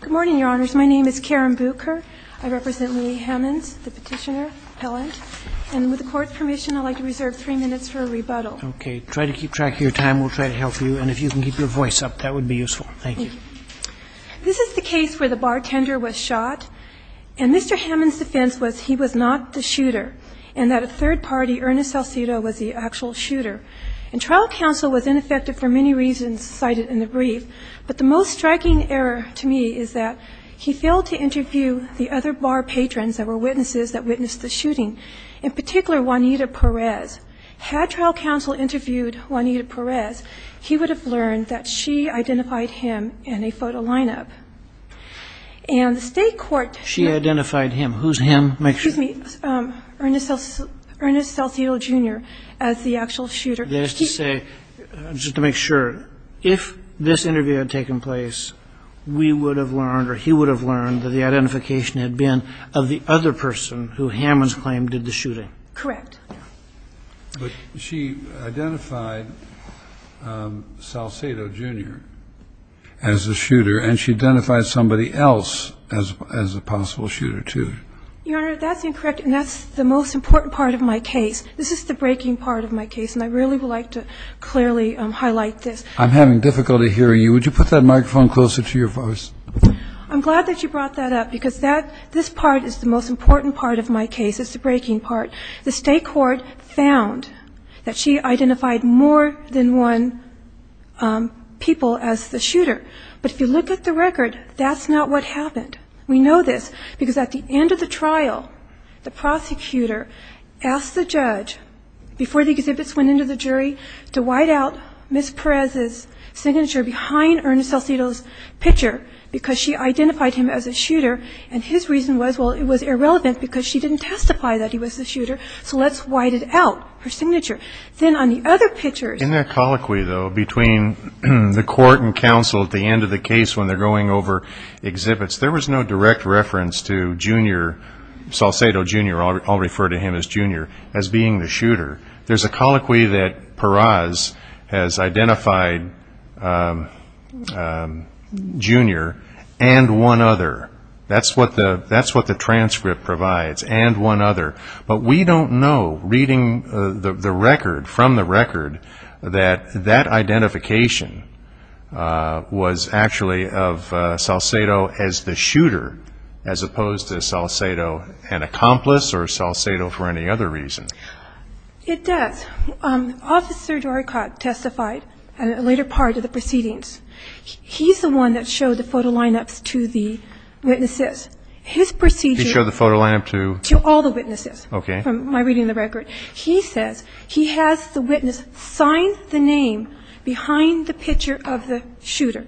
Good morning, Your Honors. My name is Karen Bucher. I represent Leigh Hammonds, the petitioner, appellant. And with the Court's permission, I'd like to reserve three minutes for a rebuttal. Okay. Try to keep track of your time. We'll try to help you. And if you can keep your voice up, that would be useful. Thank you. This is the case where the bartender was shot. And Mr. Hammonds' defense was he was not the shooter, and that a third party, Ernest Salcido, was the actual shooter. And trial counsel was ineffective for many reasons cited in the brief. But the most striking error to me is that he failed to interview the other bar patrons that were witnesses that witnessed the shooting, in particular Juanita Perez. Had trial counsel interviewed Juanita Perez, he would have learned that she identified him in a photo lineup. And the State Court... She identified him. Who's him? Excuse me. Ernest Salcido Jr. as the actual shooter. That is to say, just to make sure, if this interview had taken place, we would have learned or he would have learned that the identification had been of the other person who Hammonds claimed did the shooting. Correct. But she identified Salcido Jr. as the shooter, and she identified somebody else as a possible shooter, too. Your Honor, that's incorrect, and that's the most important part of my case. This is the breaking part of my case, and I really would like to clearly highlight this. I'm having difficulty hearing you. Would you put that microphone closer to your voice? I'm glad that you brought that up, because that this part is the most important part of my case. It's the breaking part. The State Court found that she identified more than one people as the shooter. But if you look at the record, that's not what happened. We know this, because at the end of the trial, the prosecutor asked the judge, before the exhibits went into the jury, to white out Ms. Perez's signature behind Ernest Salcido's picture, because she identified him as a shooter, and his reason was, well, it was irrelevant, because she didn't testify that he was the shooter, so let's white it out, her signature. Then on the other pictures ---- In that colloquy, though, between the court and counsel at the end of the case when they're going over exhibits, there was no direct reference to Junior, Salcido Junior, I'll refer to him as Junior, as being the shooter. There's a colloquy that Perez has identified Junior and one other. That's what the transcript provides, and one other. But we don't know, reading the record, from the record, that that identification was actually of Salcido as the shooter, as opposed to Salcido an accomplice or Salcido for any other reason. It does. Officer Dorecott testified at a later part of the proceedings. He's the one that showed the photo lineups to the witnesses. His procedure ---- He showed the photo lineup to ---- To all the witnesses. Okay. From my reading of the record. He says he has the witness sign the name behind the picture of the shooter,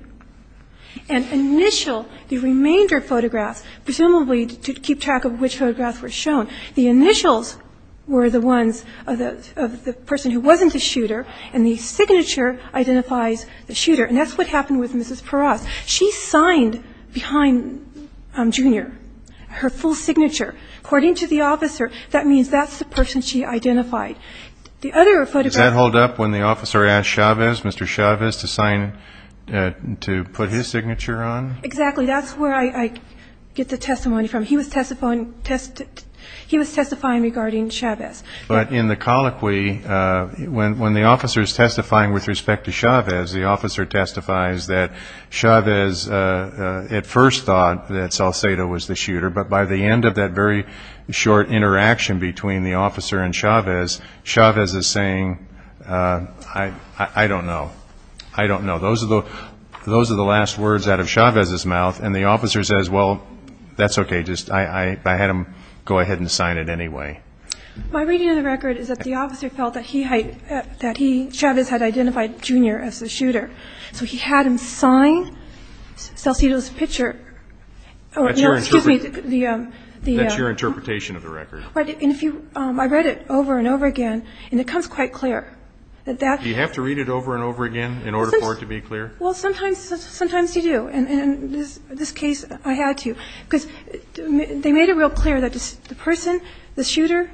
and initial, the remainder of photographs, presumably to keep track of which photographs were shown. The initials were the ones of the person who wasn't the shooter, and the signature identifies the shooter. And that's what happened with Mrs. Perez. She signed behind Junior her full signature. According to the officer, that means that's the person she identified. The other photograph ---- Does that hold up when the officer asked Chavez, Mr. Chavez, to sign, to put his signature on? Exactly. That's where I get the testimony from. He was testifying regarding Chavez. But in the colloquy, when the officer is testifying with respect to Chavez, the officer testifies that Chavez at first thought that Salcido was the shooter, but by the end of that very short interaction between the officer and Chavez, Chavez is saying, I don't know. Those are the last words out of Chavez's mouth, and the officer says, well, that's okay. I had him go ahead and sign it anyway. My reading of the record is that the officer felt that Chavez had identified Junior as the shooter. So he had him sign Salcido's picture. That's your interpretation of the record. I read it over and over again, and it comes quite clear. Do you have to read it over and over again in order for it to be clear? Well, sometimes you do, and in this case, I had to, because they made it real clear that the person, the shooter,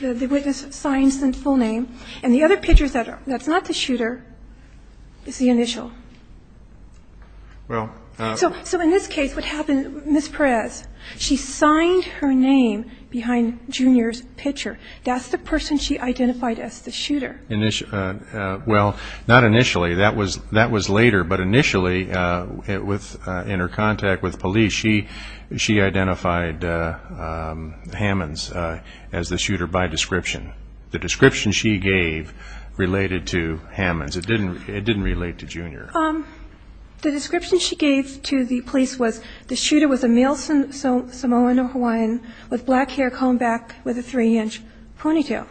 the witness signs the full name, and the other picture that's not the shooter is the initial. So in this case, what happened, Ms. Perez, she signed her name behind Junior's picture. That's the person she identified as the shooter. Well, not initially. That was later, but initially, in her contact with police, she identified Hammonds as the shooter by description. The description she gave related to Hammonds. It didn't relate to Junior. The description she gave to the police was the shooter was a male Samoan or Hawaiian with black hair, combed back with a three-inch ponytail.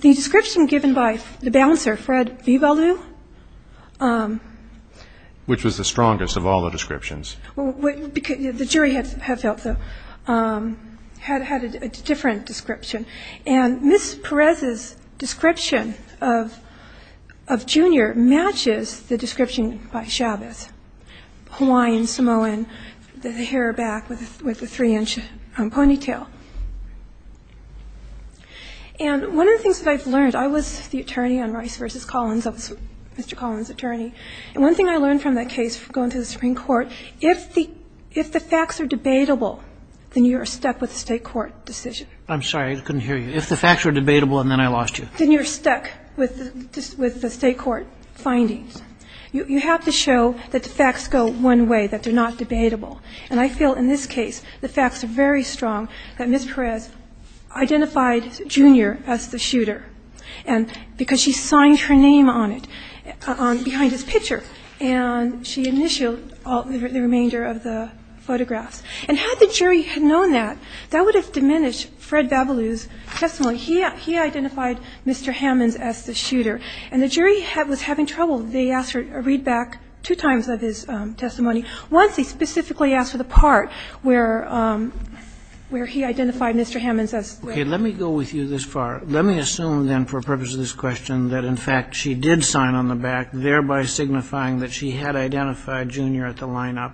The description given by the bouncer, Fred Vivalu. Which was the strongest of all the descriptions. The jury had felt so, had a different description. And Ms. Perez's description of Junior matches the description by Chavez. Hawaiian, Samoan, the hair back with the three-inch ponytail. And one of the things that I've learned, I was the attorney on Rice v. Collins. I was Mr. Collins' attorney. And one thing I learned from that case going to the Supreme Court, if the facts are debatable, then you are stuck with the state court decision. I'm sorry, I couldn't hear you. If the facts are debatable, and then I lost you. Then you're stuck with the state court findings. You have to show that the facts go one way, that they're not debatable. And I feel in this case, the facts are very strong that Ms. Perez identified Junior as the shooter. And because she signed her name on it, behind his picture. And she initialed the remainder of the photographs. And had the jury known that, that would have diminished Fred Babaloo's testimony. He identified Mr. Hammonds as the shooter. And the jury was having trouble. They asked for a readback two times of his testimony. Once he specifically asked for the part where he identified Mr. Hammonds as the shooter. Let me go with you this far. Let me assume, then, for the purpose of this question, that in fact she did sign on the back, thereby signifying that she had identified Junior at the lineup.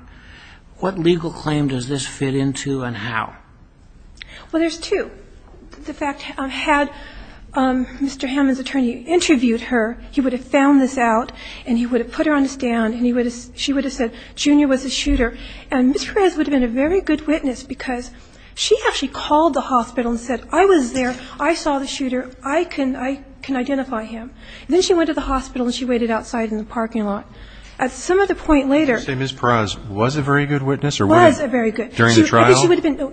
What legal claim does this fit into and how? Well, there's two. The fact, had Mr. Hammonds' attorney interviewed her, he would have found this out. And he would have put her on the stand. And she would have said Junior was the shooter. And Ms. Perez would have been a very good witness. Because she actually called the hospital and said, I was there. I saw the shooter. I can identify him. Then she went to the hospital and she waited outside in the parking lot. At some of the point later. Did you say Ms. Perez was a very good witness? Was a very good. During the trial?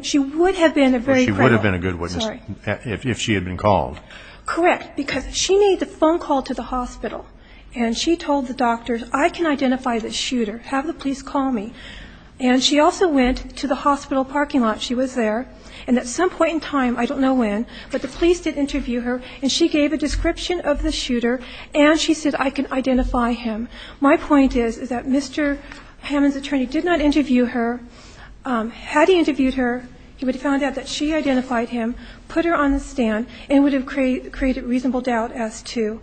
She would have been a very good witness. She would have been a good witness if she had been called. Correct. Because she made the phone call to the hospital. And she told the doctors, I can identify the shooter. Have the police call me. And she also went to the hospital parking lot. She was there. And at some point in time, I don't know when, but the police did interview her. And she gave a description of the shooter. And she said, I can identify him. My point is, is that Mr. Hammond's attorney did not interview her. Had he interviewed her, he would have found out that she identified him. Put her on the stand. And it would have created reasonable doubt as to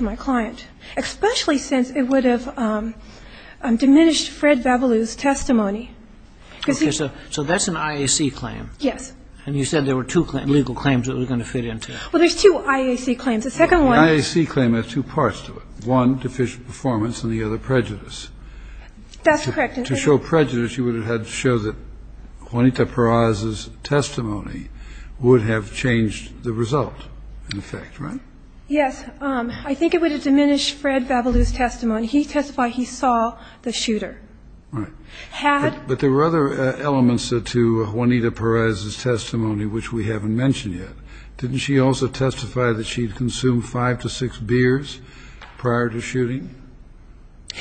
my client. Especially since it would have diminished Fred Babalu's testimony. Okay. So that's an IAC claim. Yes. And you said there were two legal claims that were going to fit into that. Well, there's two IAC claims. The second one. The IAC claim has two parts to it. One, deficient performance. And the other, prejudice. That's correct. To show prejudice, you would have had to show that Juanita Perez's testimony would have changed the result, in effect. Right? Yes. I think it would have diminished Fred Babalu's testimony. He testified he saw the shooter. Right. Had. But there were other elements to Juanita Perez's testimony, which we haven't mentioned yet. Didn't she also testify that she had consumed five to six beers prior to shooting?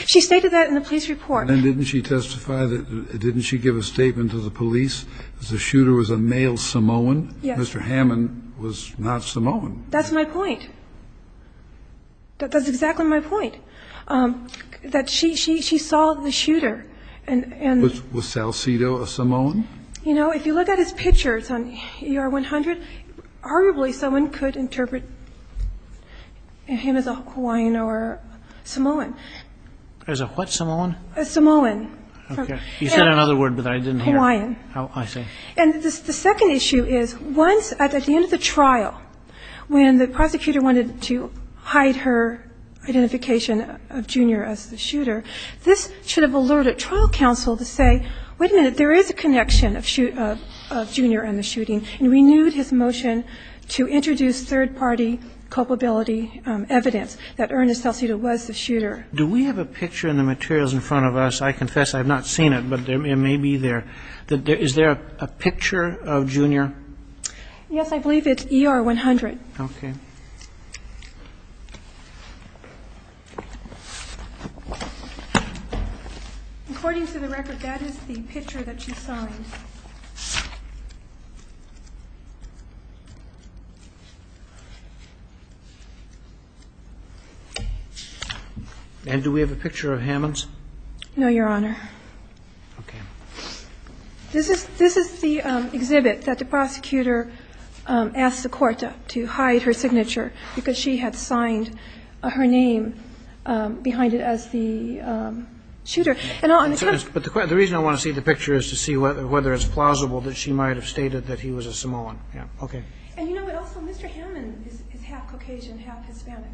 She stated that in the police report. And then didn't she testify that didn't she give a statement to the police that the shooter was a male Samoan? Yes. Mr. Hammond was not Samoan. That's my point. That's exactly my point. That she saw the shooter. Was Salcido a Samoan? You know, if you look at his pictures on ER 100, arguably someone could interpret him as a Hawaiian or Samoan. As a what Samoan? A Samoan. Okay. He said another word, but I didn't hear it. Hawaiian. Oh, I see. And the second issue is, once at the end of the trial, when the prosecutor wanted to hide her identification of Junior as the shooter, this should have alerted trial counsel to say, wait a minute, there is a connection of Junior and the shooting, and renewed his motion to introduce third-party culpability evidence that Ernest Salcido was the shooter. Do we have a picture in the materials in front of us? I confess I have not seen it, but it may be there. Is there a picture of Junior? Yes, I believe it's ER 100. Okay. According to the record, that is the picture that she signed. And do we have a picture of Hammonds? No, Your Honor. Okay. This is the exhibit that the prosecutor asked the court to hide her signature, because she had signed her name behind it as the shooter. But the reason I want to see the picture is to see whether it's plausible that she might have stated that he was a Samoan. Okay. And, you know, but also Mr. Hammond is half Caucasian, half Hispanic.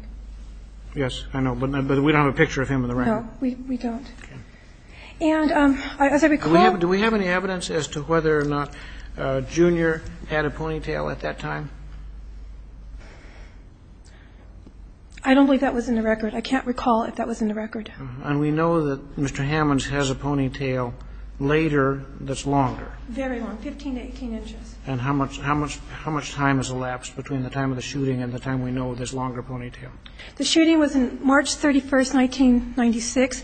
Yes, I know. But we don't have a picture of him in the record. No, we don't. Okay. And as I recall ñ Do we have any evidence as to whether or not Junior had a ponytail at that time? I don't believe that was in the record. I can't recall if that was in the record. And we know that Mr. Hammonds has a ponytail later that's longer. Very long, 15 to 18 inches. And how much time has elapsed between the time of the shooting and the time we know of this longer ponytail? The shooting was on March 31st, 1996.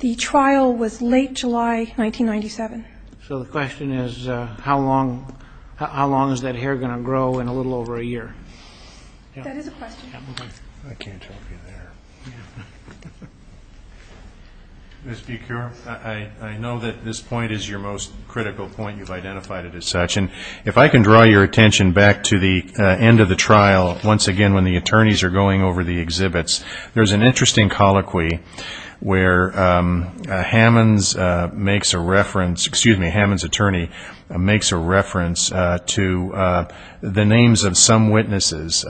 The trial was late July 1997. So the question is how long is that hair going to grow in a little over a year? That is a question. I can't tell if you're there. Ms. Bikur, I know that this point is your most critical point. You've identified it as such. If I can draw your attention back to the end of the trial, once again, when the attorneys are going over the exhibits, there's an interesting colloquy where Hammonds makes a reference ñ excuse me, Hammonds' attorney makes a reference to the names of some witnesses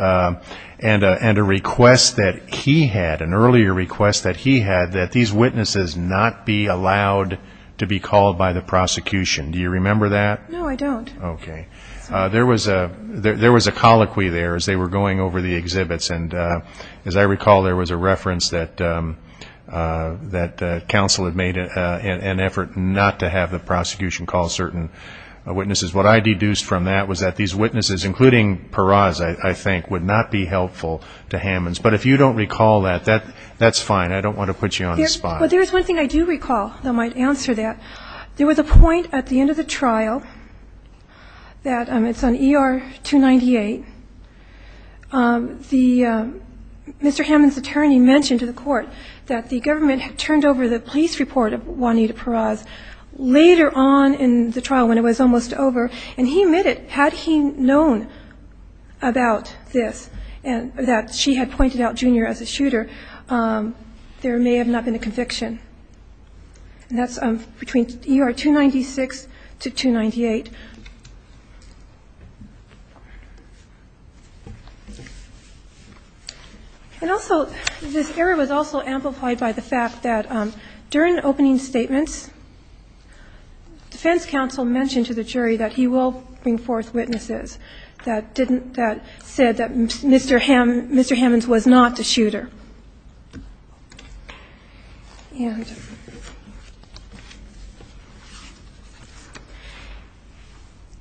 and a request that he had, an earlier request that he had, that these witnesses not be allowed to be called by the prosecution. Do you remember that? No, I don't. Okay. There was a colloquy there as they were going over the exhibits. And as I recall, there was a reference that counsel had made an effort not to have the prosecution call certain witnesses. What I deduced from that was that these witnesses, including Peraz, I think, would not be helpful to Hammonds. But if you don't recall that, that's fine. I don't want to put you on the spot. But there is one thing I do recall that might answer that. There was a point at the end of the trial that, it's on ER 298, Mr. Hammonds' attorney mentioned to the court that the government had turned over the police report of Juanita Peraz later on in the trial when it was almost over. And he admitted, had he known about this, that she had pointed out Junior as a shooter, there may have not been a conviction. And that's between ER 296 to 298. And also, this error was also amplified by the fact that during opening statements, defense counsel mentioned to the jury that he will bring forth witnesses that didn't, that said that Mr. Hammonds was not the shooter. And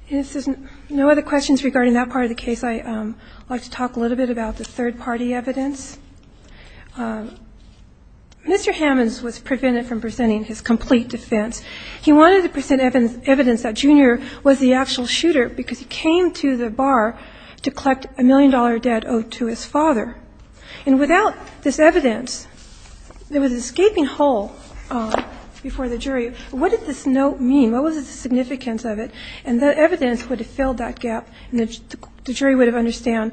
if there's no other questions regarding that part of the case, I'd like to talk a little bit about the third-party evidence. Mr. Hammonds was prevented from presenting his complete defense. He wanted to present evidence that Junior was the actual shooter because he came to the bar to collect a million-dollar debt owed to his father. And without this evidence, there was an escaping hole before the jury. What did this note mean? What was the significance of it? And the evidence would have filled that gap, and the jury would have understood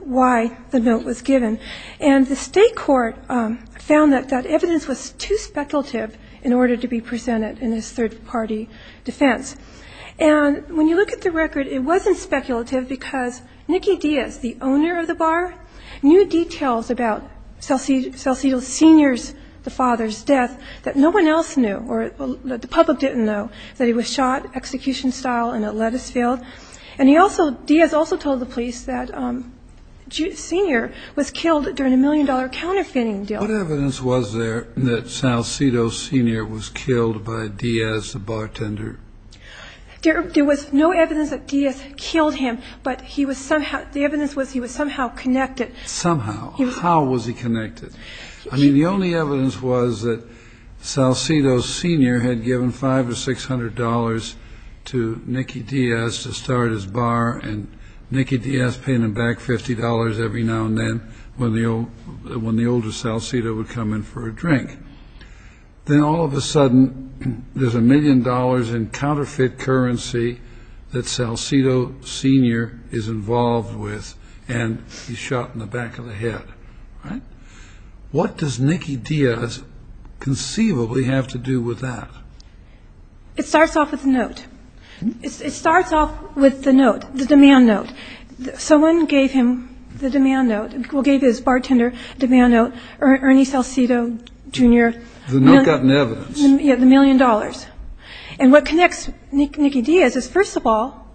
why the note was given. And the State court found that that evidence was too speculative in order to be presented in this third-party defense. And when you look at the record, it wasn't speculative because Nicky Diaz, the owner of the bar, knew details about Salcido Sr.'s, the father's, death that no one else knew or that the public didn't know, that he was shot execution-style in a lettuce field. And he also, Diaz also told the police that Junior was killed during a million-dollar counterfeiting deal. What evidence was there that Salcido Sr. was killed by Diaz, the bartender? There was no evidence that Diaz killed him, but he was somehow, the evidence was he was somehow connected. Somehow. How was he connected? I mean, the only evidence was that Salcido Sr. had given $500 or $600 to Nicky Diaz to start his bar, and Nicky Diaz paying him back $50 every now and then when the older Salcido would come in for a drink. Then all of a sudden, there's a million dollars in counterfeit currency that Salcido Sr. is involved with, and he's shot in the back of the head. All right? What does Nicky Diaz conceivably have to do with that? It starts off with a note. It starts off with the note, the demand note. Someone gave him the demand note, well, gave his bartender the demand note, Ernie Salcido Jr. The note got in evidence. Yeah, the million dollars. And what connects Nicky Diaz is, first of all,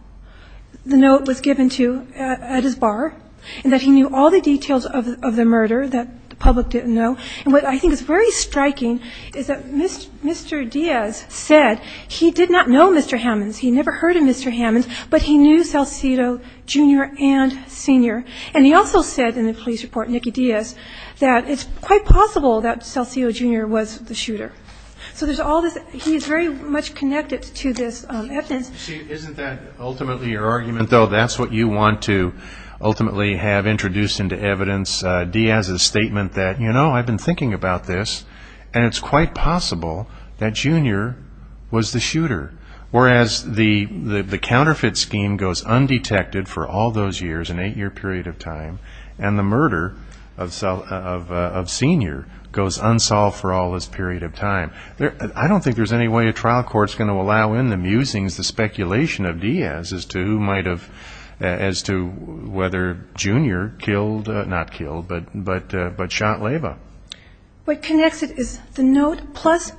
the note was given to at his bar, and that he knew all the details of the murder that the public didn't know. And what I think is very striking is that Mr. Diaz said he did not know Mr. Hammonds. He never heard of Mr. Hammonds, but he knew Salcido Jr. and Sr., and he also said in the police report, Nicky Diaz, that it's quite possible that Salcido Jr. was the shooter. So there's all this. He is very much connected to this evidence. Isn't that ultimately your argument, though? That's what you want to ultimately have introduced into evidence. Diaz's statement that, you know, I've been thinking about this, and it's quite possible that Jr. was the shooter, whereas the counterfeit scheme goes undetected for all those years, an eight-year period of time, and the murder of Sr. goes unsolved for all this period of time. I don't think there's any way a trial court is going to allow in the musings, the speculation of Diaz as to who might have, as to whether Jr. killed, not killed, but shot Leyva. What connects it is the note plus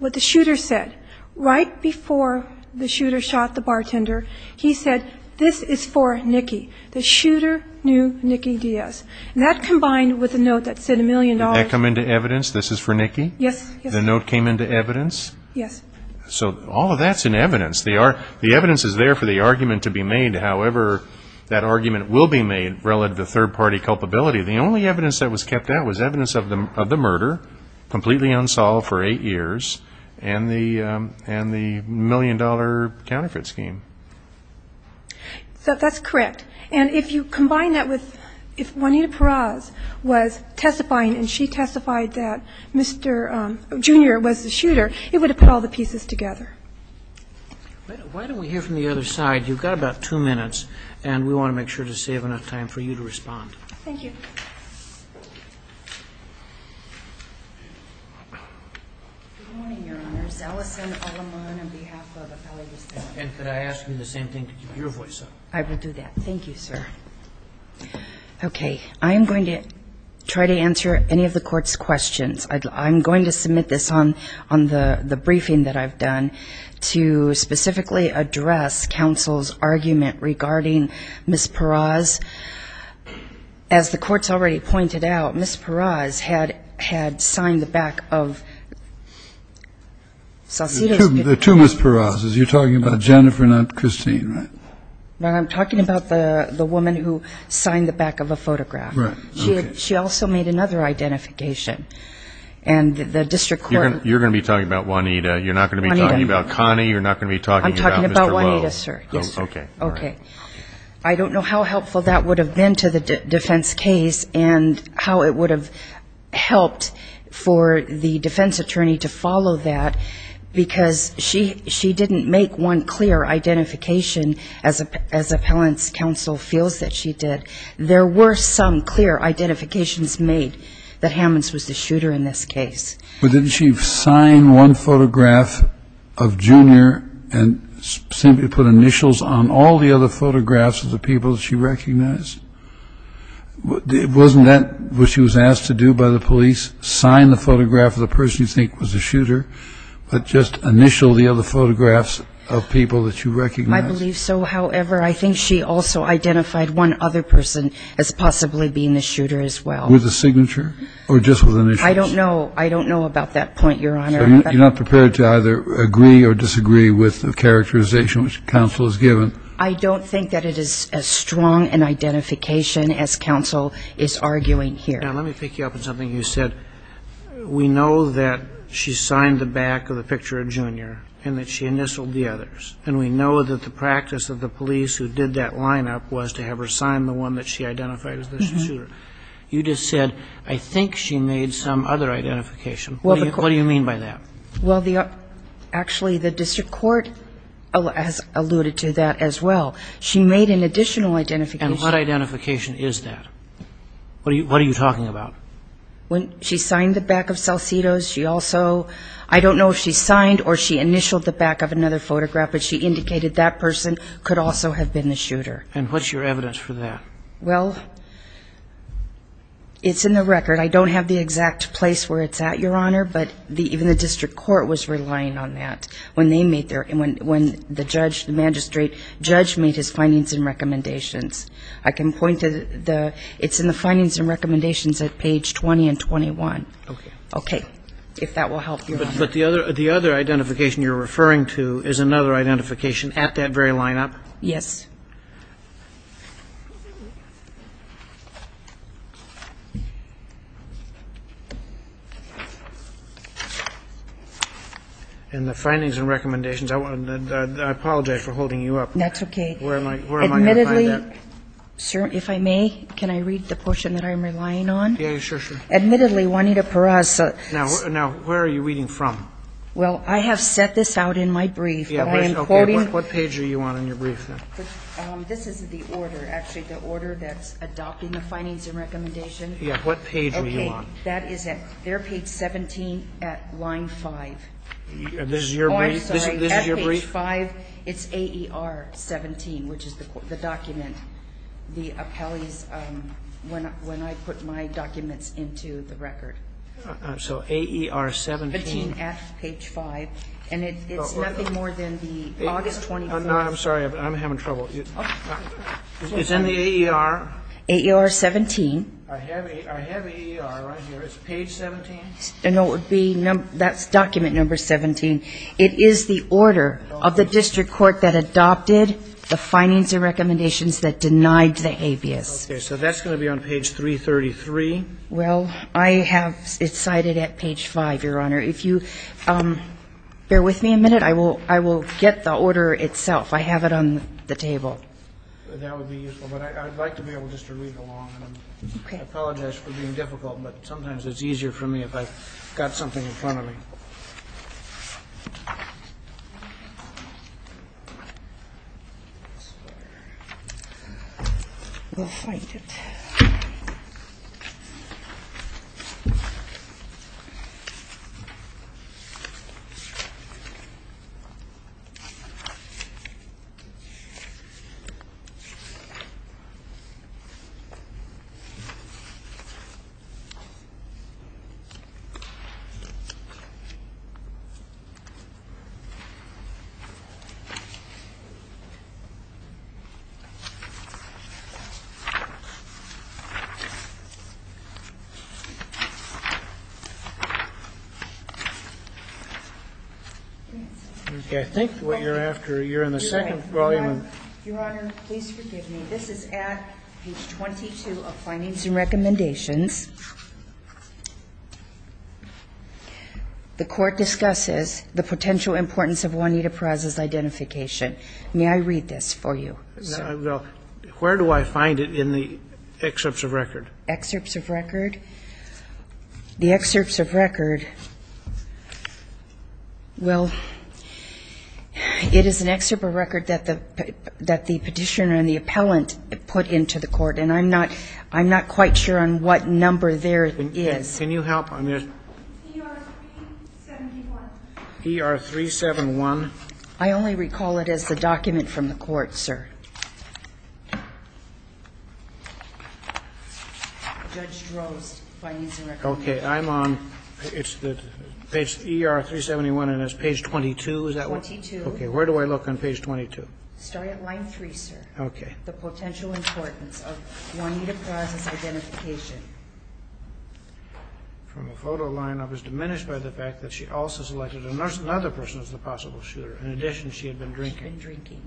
what the shooter said. Right before the shooter shot the bartender, he said, This is for Nicky. The shooter knew Nicky Diaz. And that combined with the note that said a million dollars. Did that come into evidence, this is for Nicky? Yes. The note came into evidence? Yes. So all of that's in evidence. The evidence is there for the argument to be made. However, that argument will be made relative to third-party culpability. The only evidence that was kept out was evidence of the murder, completely unsolved for eight years, and the million-dollar counterfeit scheme. So that's correct. And if you combine that with if Juanita Perez was testifying and she testified that Jr. was the shooter, it would have put all the pieces together. Why don't we hear from the other side? You've got about two minutes, and we want to make sure to save enough time for you to respond. Thank you. Good morning, Your Honors. Alison Alamon on behalf of the Family Justice Committee. And could I ask you the same thing to keep your voice up? I will do that. Thank you, sir. Okay. I am going to try to answer any of the Court's questions. I'm going to submit this on the briefing that I've done to specifically address counsel's argument regarding Ms. Perez. As the Court's already pointed out, Ms. Perez had signed the back of Salcido's. Two Ms. Perez's. You're talking about Jennifer, not Christine, right? I'm talking about the woman who signed the back of a photograph. Right. Okay. She also made another identification. And the district court. You're going to be talking about Juanita. You're not going to be talking about Connie. You're not going to be talking about Mr. Lowe. I'm talking about Juanita, sir. Yes, sir. Okay. Okay. I don't know how helpful that would have been to the defense case and how it would have helped for the defense attorney to follow that, because she didn't make one clear identification as appellant's counsel feels that she did. There were some clear identifications made that Hammonds was the shooter in this case. But didn't she sign one photograph of Junior and simply put initials on all the other photographs of the people that she recognized? Wasn't that what she was asked to do by the police, sign the photograph of the person you think was the shooter, but just initial the other photographs of people that you recognized? I believe so. However, I think she also identified one other person as possibly being the shooter as well. With a signature or just with initials? I don't know. I don't know about that point, Your Honor. You're not prepared to either agree or disagree with the characterization which counsel has given? I don't think that it is as strong an identification as counsel is arguing here. Now, let me pick you up on something you said. We know that she signed the back of the picture of Junior and that she initialed the others. And we know that the practice of the police who did that lineup was to have her sign the one that she identified as the shooter. You just said, I think she made some other identification. What do you mean by that? Well, actually, the district court has alluded to that as well. She made an additional identification. And what identification is that? What are you talking about? She signed the back of Salcido's. She also, I don't know if she signed or she initialed the back of another photograph, but she indicated that person could also have been the shooter. And what's your evidence for that? Well, it's in the record. I don't have the exact place where it's at, Your Honor, but even the district court was relying on that when they made their – when the judge, the magistrate judge made his findings and recommendations. I can point to the – it's in the findings and recommendations at page 20 and 21. Okay. Okay. If that will help, Your Honor. But the other identification you're referring to is another identification at that very lineup? Yes. And the findings and recommendations, I apologize for holding you up. That's okay. Where am I going to find that? Admittedly, sir, if I may, can I read the portion that I'm relying on? Yeah, sure, sure. Admittedly, Juanita Peraza – Now, where are you reading from? Well, I have set this out in my brief, but I am quoting – Okay. What page are you on in your brief, then? This is the order. Actually, the order that's adopting the findings and recommendation. Yeah. What page are you on? Okay. That is at – they're page 17 at line 5. This is your brief? I'm sorry. F page 5. It's AER 17, which is the document. The appellee's – when I put my documents into the record. So AER 17. Between F page 5. And it's nothing more than the August 24th – No, I'm sorry. I'm having trouble. It's in the AER. AER 17. I have AER right here. It's page 17? No, it would be – that's document number 17. It is the order of the district court that adopted the findings and recommendations that denied the habeas. Okay. So that's going to be on page 333. Well, I have – it's cited at page 5, Your Honor. If you bear with me a minute, I will get the order itself. I have it on the table. That would be useful. But I'd like to be able just to read along. Okay. I apologize for being difficult, but sometimes it's easier for me if I've got something in front of me. Let's see here. We'll find it. I think what you're after – you're in the second volume. Your Honor, please forgive me. This is at page 22 of findings and recommendations. The court discusses the potential importance of Juanita Perez's identification. May I read this for you, sir? Well, where do I find it in the excerpts of record? Excerpts of record? The excerpts of record, well, it is an excerpt of record that the petitioner and the appellant put into the court. And I'm not quite sure on what number there is. Can you help on this? PR-371. PR-371. I only recall it as the document from the court, sir. Judge Drozd, findings and recommendations. Okay. I'm on – it's the page – ER-371, and it's page 22, is that right? 22. Okay. Where do I look on page 22? Start at line 3, sir. Okay. The potential importance of Juanita Perez's identification. From the photo line, I was diminished by the fact that she also selected another person as the possible shooter. In addition, she had been drinking. She had been drinking.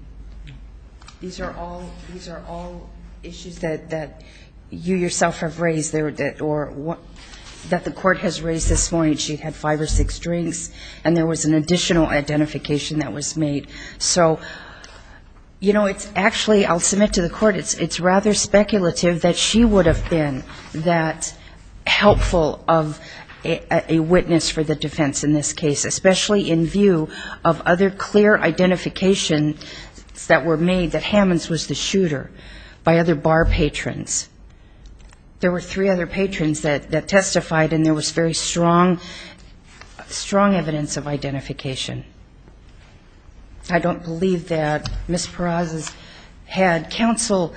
These are all – these are all issues that you yourself have raised or that the court has raised this morning. She had five or six drinks, and there was an additional identification that was made. So, you know, it's actually – I'll submit to the court, it's rather speculative that she would have been that helpful of a witness for the defense in this case, especially in view of other clear identifications that were made that Hammonds was the shooter by other bar patrons. There were three other patrons that testified, and there was very strong evidence of identification. I don't believe that Ms. Perez had counsel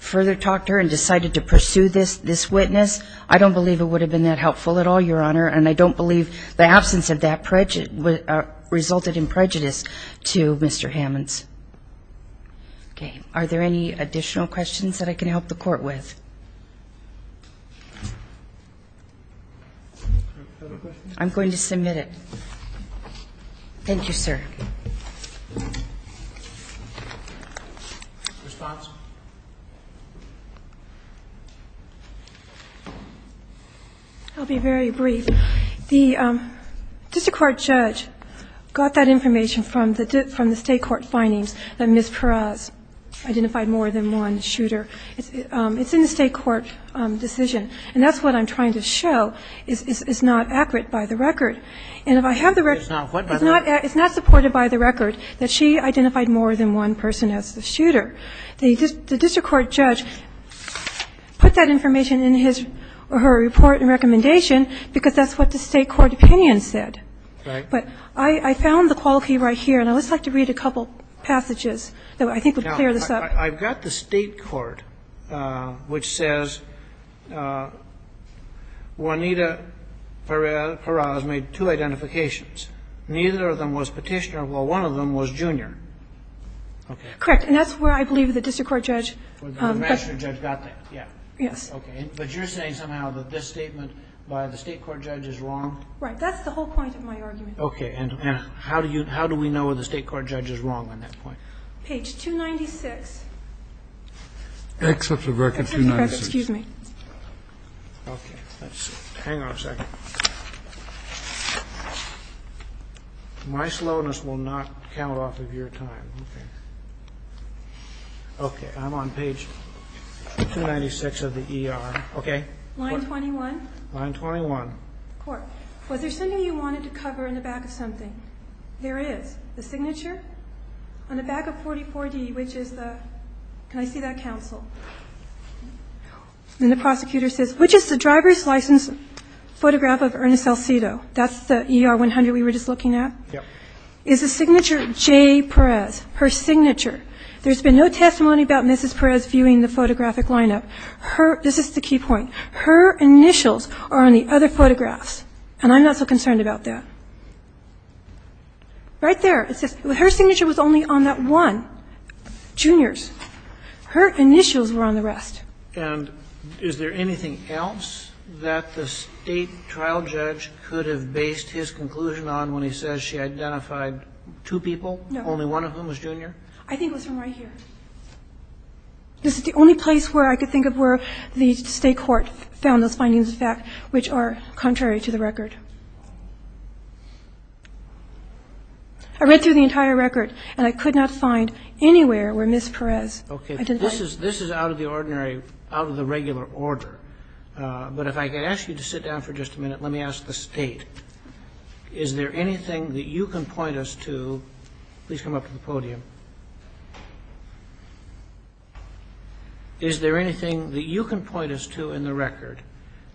further talk to her and decided to pursue this witness. I don't believe it would have been that helpful at all, Your Honor, and I don't believe the absence of that resulted in prejudice to Mr. Hammonds. Okay. Are there any additional questions that I can help the court with? I'm going to submit it. Thank you, sir. Response? I'll be very brief. The district court judge got that information from the state court findings that Ms. Perez identified more than one shooter. It's in the state court decision, and that's what I'm trying to show is not accurate by the record. And if I have the record, it's not supported by the record that she identified more than one person as the shooter. The district court judge put that information in his or her report and recommendation because that's what the state court opinion said. But I found the quality right here, and I would just like to read a couple passages that I think would clear this up. I've got the state court, which says Juanita Perez-Perez made two statements. She made two identifications. Neither of them was petitioner, while one of them was junior. Okay. Correct. And that's where I believe the district court judge got that. The magistrate judge got that, yeah. Yes. Okay. But you're saying somehow that this statement by the state court judge is wrong? Right. That's the whole point of my argument. Okay. And how do we know if the state court judge is wrong on that point? Page 296. Except the record 296. Excuse me. Okay. Hang on a second. My slowness will not count off of your time. Okay. Okay. I'm on page 296 of the ER. Okay. Line 21? Line 21. Court, was there something you wanted to cover in the back of something? There is. The signature? On the back of 44D, which is the ñ can I see that, counsel? And the prosecutor says, which is the driver's license photograph of Ernest Salcido? That's the ER-100 we were just looking at? Yeah. Is the signature Jay Perez, her signature? There's been no testimony about Mrs. Perez viewing the photographic lineup. Her ñ this is the key point. Her initials are on the other photographs, and I'm not so concerned about that. Right there. It says her signature was only on that one, Junior's. Her initials were on the rest. And is there anything else that the State trial judge could have based his conclusion on when he says she identified two people? No. Only one of whom was Junior? I think it was from right here. This is the only place where I could think of where the State court found those findings of fact which are contrary to the record. I read through the entire record, and I could not find anywhere where Mrs. Perez identified. Okay. This is out of the ordinary ñ out of the regular order. But if I could ask you to sit down for just a minute, let me ask the State. Is there anything that you can point us to ñ please come up to the podium. Is there anything that you can point us to in the record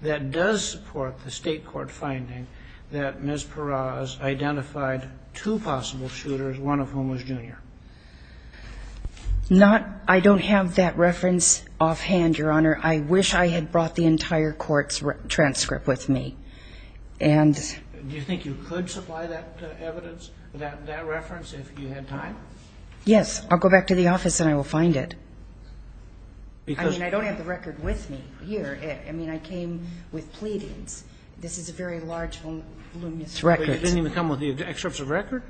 that does support the State court finding that Mrs. Perez identified two possible shooters, one of whom was Junior? Not ñ I don't have that reference offhand, Your Honor. I wish I had brought the entire court's transcript with me. And ñ Do you think you could supply that evidence, that reference, if you had time? Yes. I'll go back to the office, and I will find it. Because ñ I mean, I don't have the record with me here. I mean, I came with pleadings. This is a very large, voluminous record. But it didn't even come with the excerpts of record?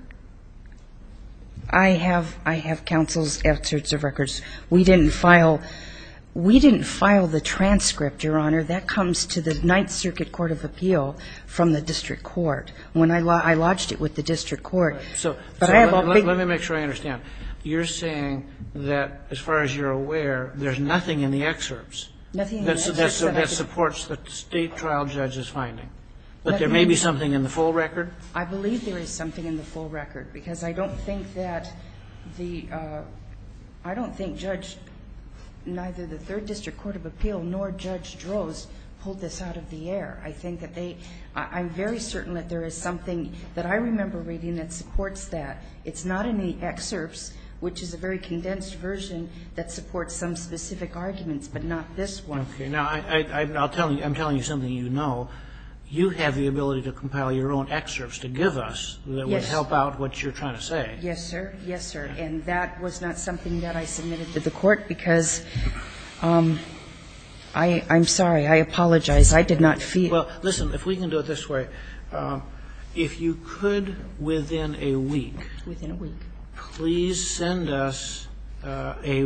I have ñ I have counsel's excerpts of records. We didn't file ñ we didn't file the transcript, Your Honor. That comes to the Ninth Circuit Court of Appeal from the district court. When I ñ I lodged it with the district court. All right. So ñ But I have a big ñ Let me make sure I understand. You're saying that, as far as you're aware, there's nothing in the excerpts ñ Nothing in the excerpts of record. That supports the State trial judge's finding. But there may be something in the full record? I believe there is something in the full record. Because I don't think that the ñ I don't think Judge ñ neither the Third District Court of Appeal nor Judge Droz pulled this out of the air. I think that they ñ I'm very certain that there is something that I remember reading that supports that. It's not in the excerpts, which is a very condensed version that supports some specific arguments, but not this one. Okay. Now, I'm telling you something you know. You have the ability to compile your own excerpts to give us that would help out what you're trying to say. Yes, sir. Yes, sir. And that was not something that I submitted to the Court because ñ I'm sorry. I apologize. I did not feel ñ Well, listen. If we can do it this way, if you could, within a week ñ Within a week. Please send us any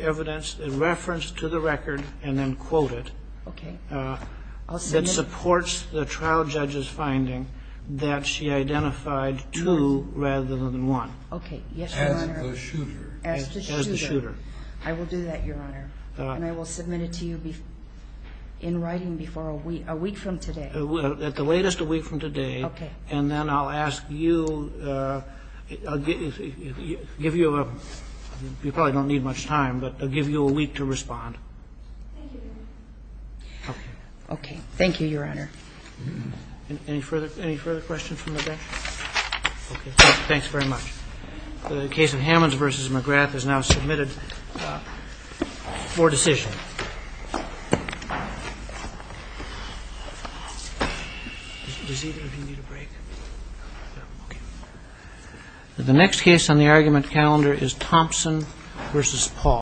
evidence, a reference to the record, and then quote it. Okay. And then I'll ask you to put it in a letter that supports the trial judge's finding that she identified two rather than one. Okay. Yes, Your Honor. As the shooter. As the shooter. I will do that, Your Honor. And I will submit it to you in writing before a week ñ a week from today. At the latest, a week from today. Okay. And then I'll ask you ñ I'll give you ñ you probably don't need much time, but I'll give you a week to respond. Thank you, Your Honor. Okay. Okay. Thank you, Your Honor. Any further ñ any further questions from the bench? Okay. Thanks very much. The case of Hammonds v. McGrath is now submitted for decision. Does either of you need a break? Okay. The next case on the argument calendar is Thompson v. Paul.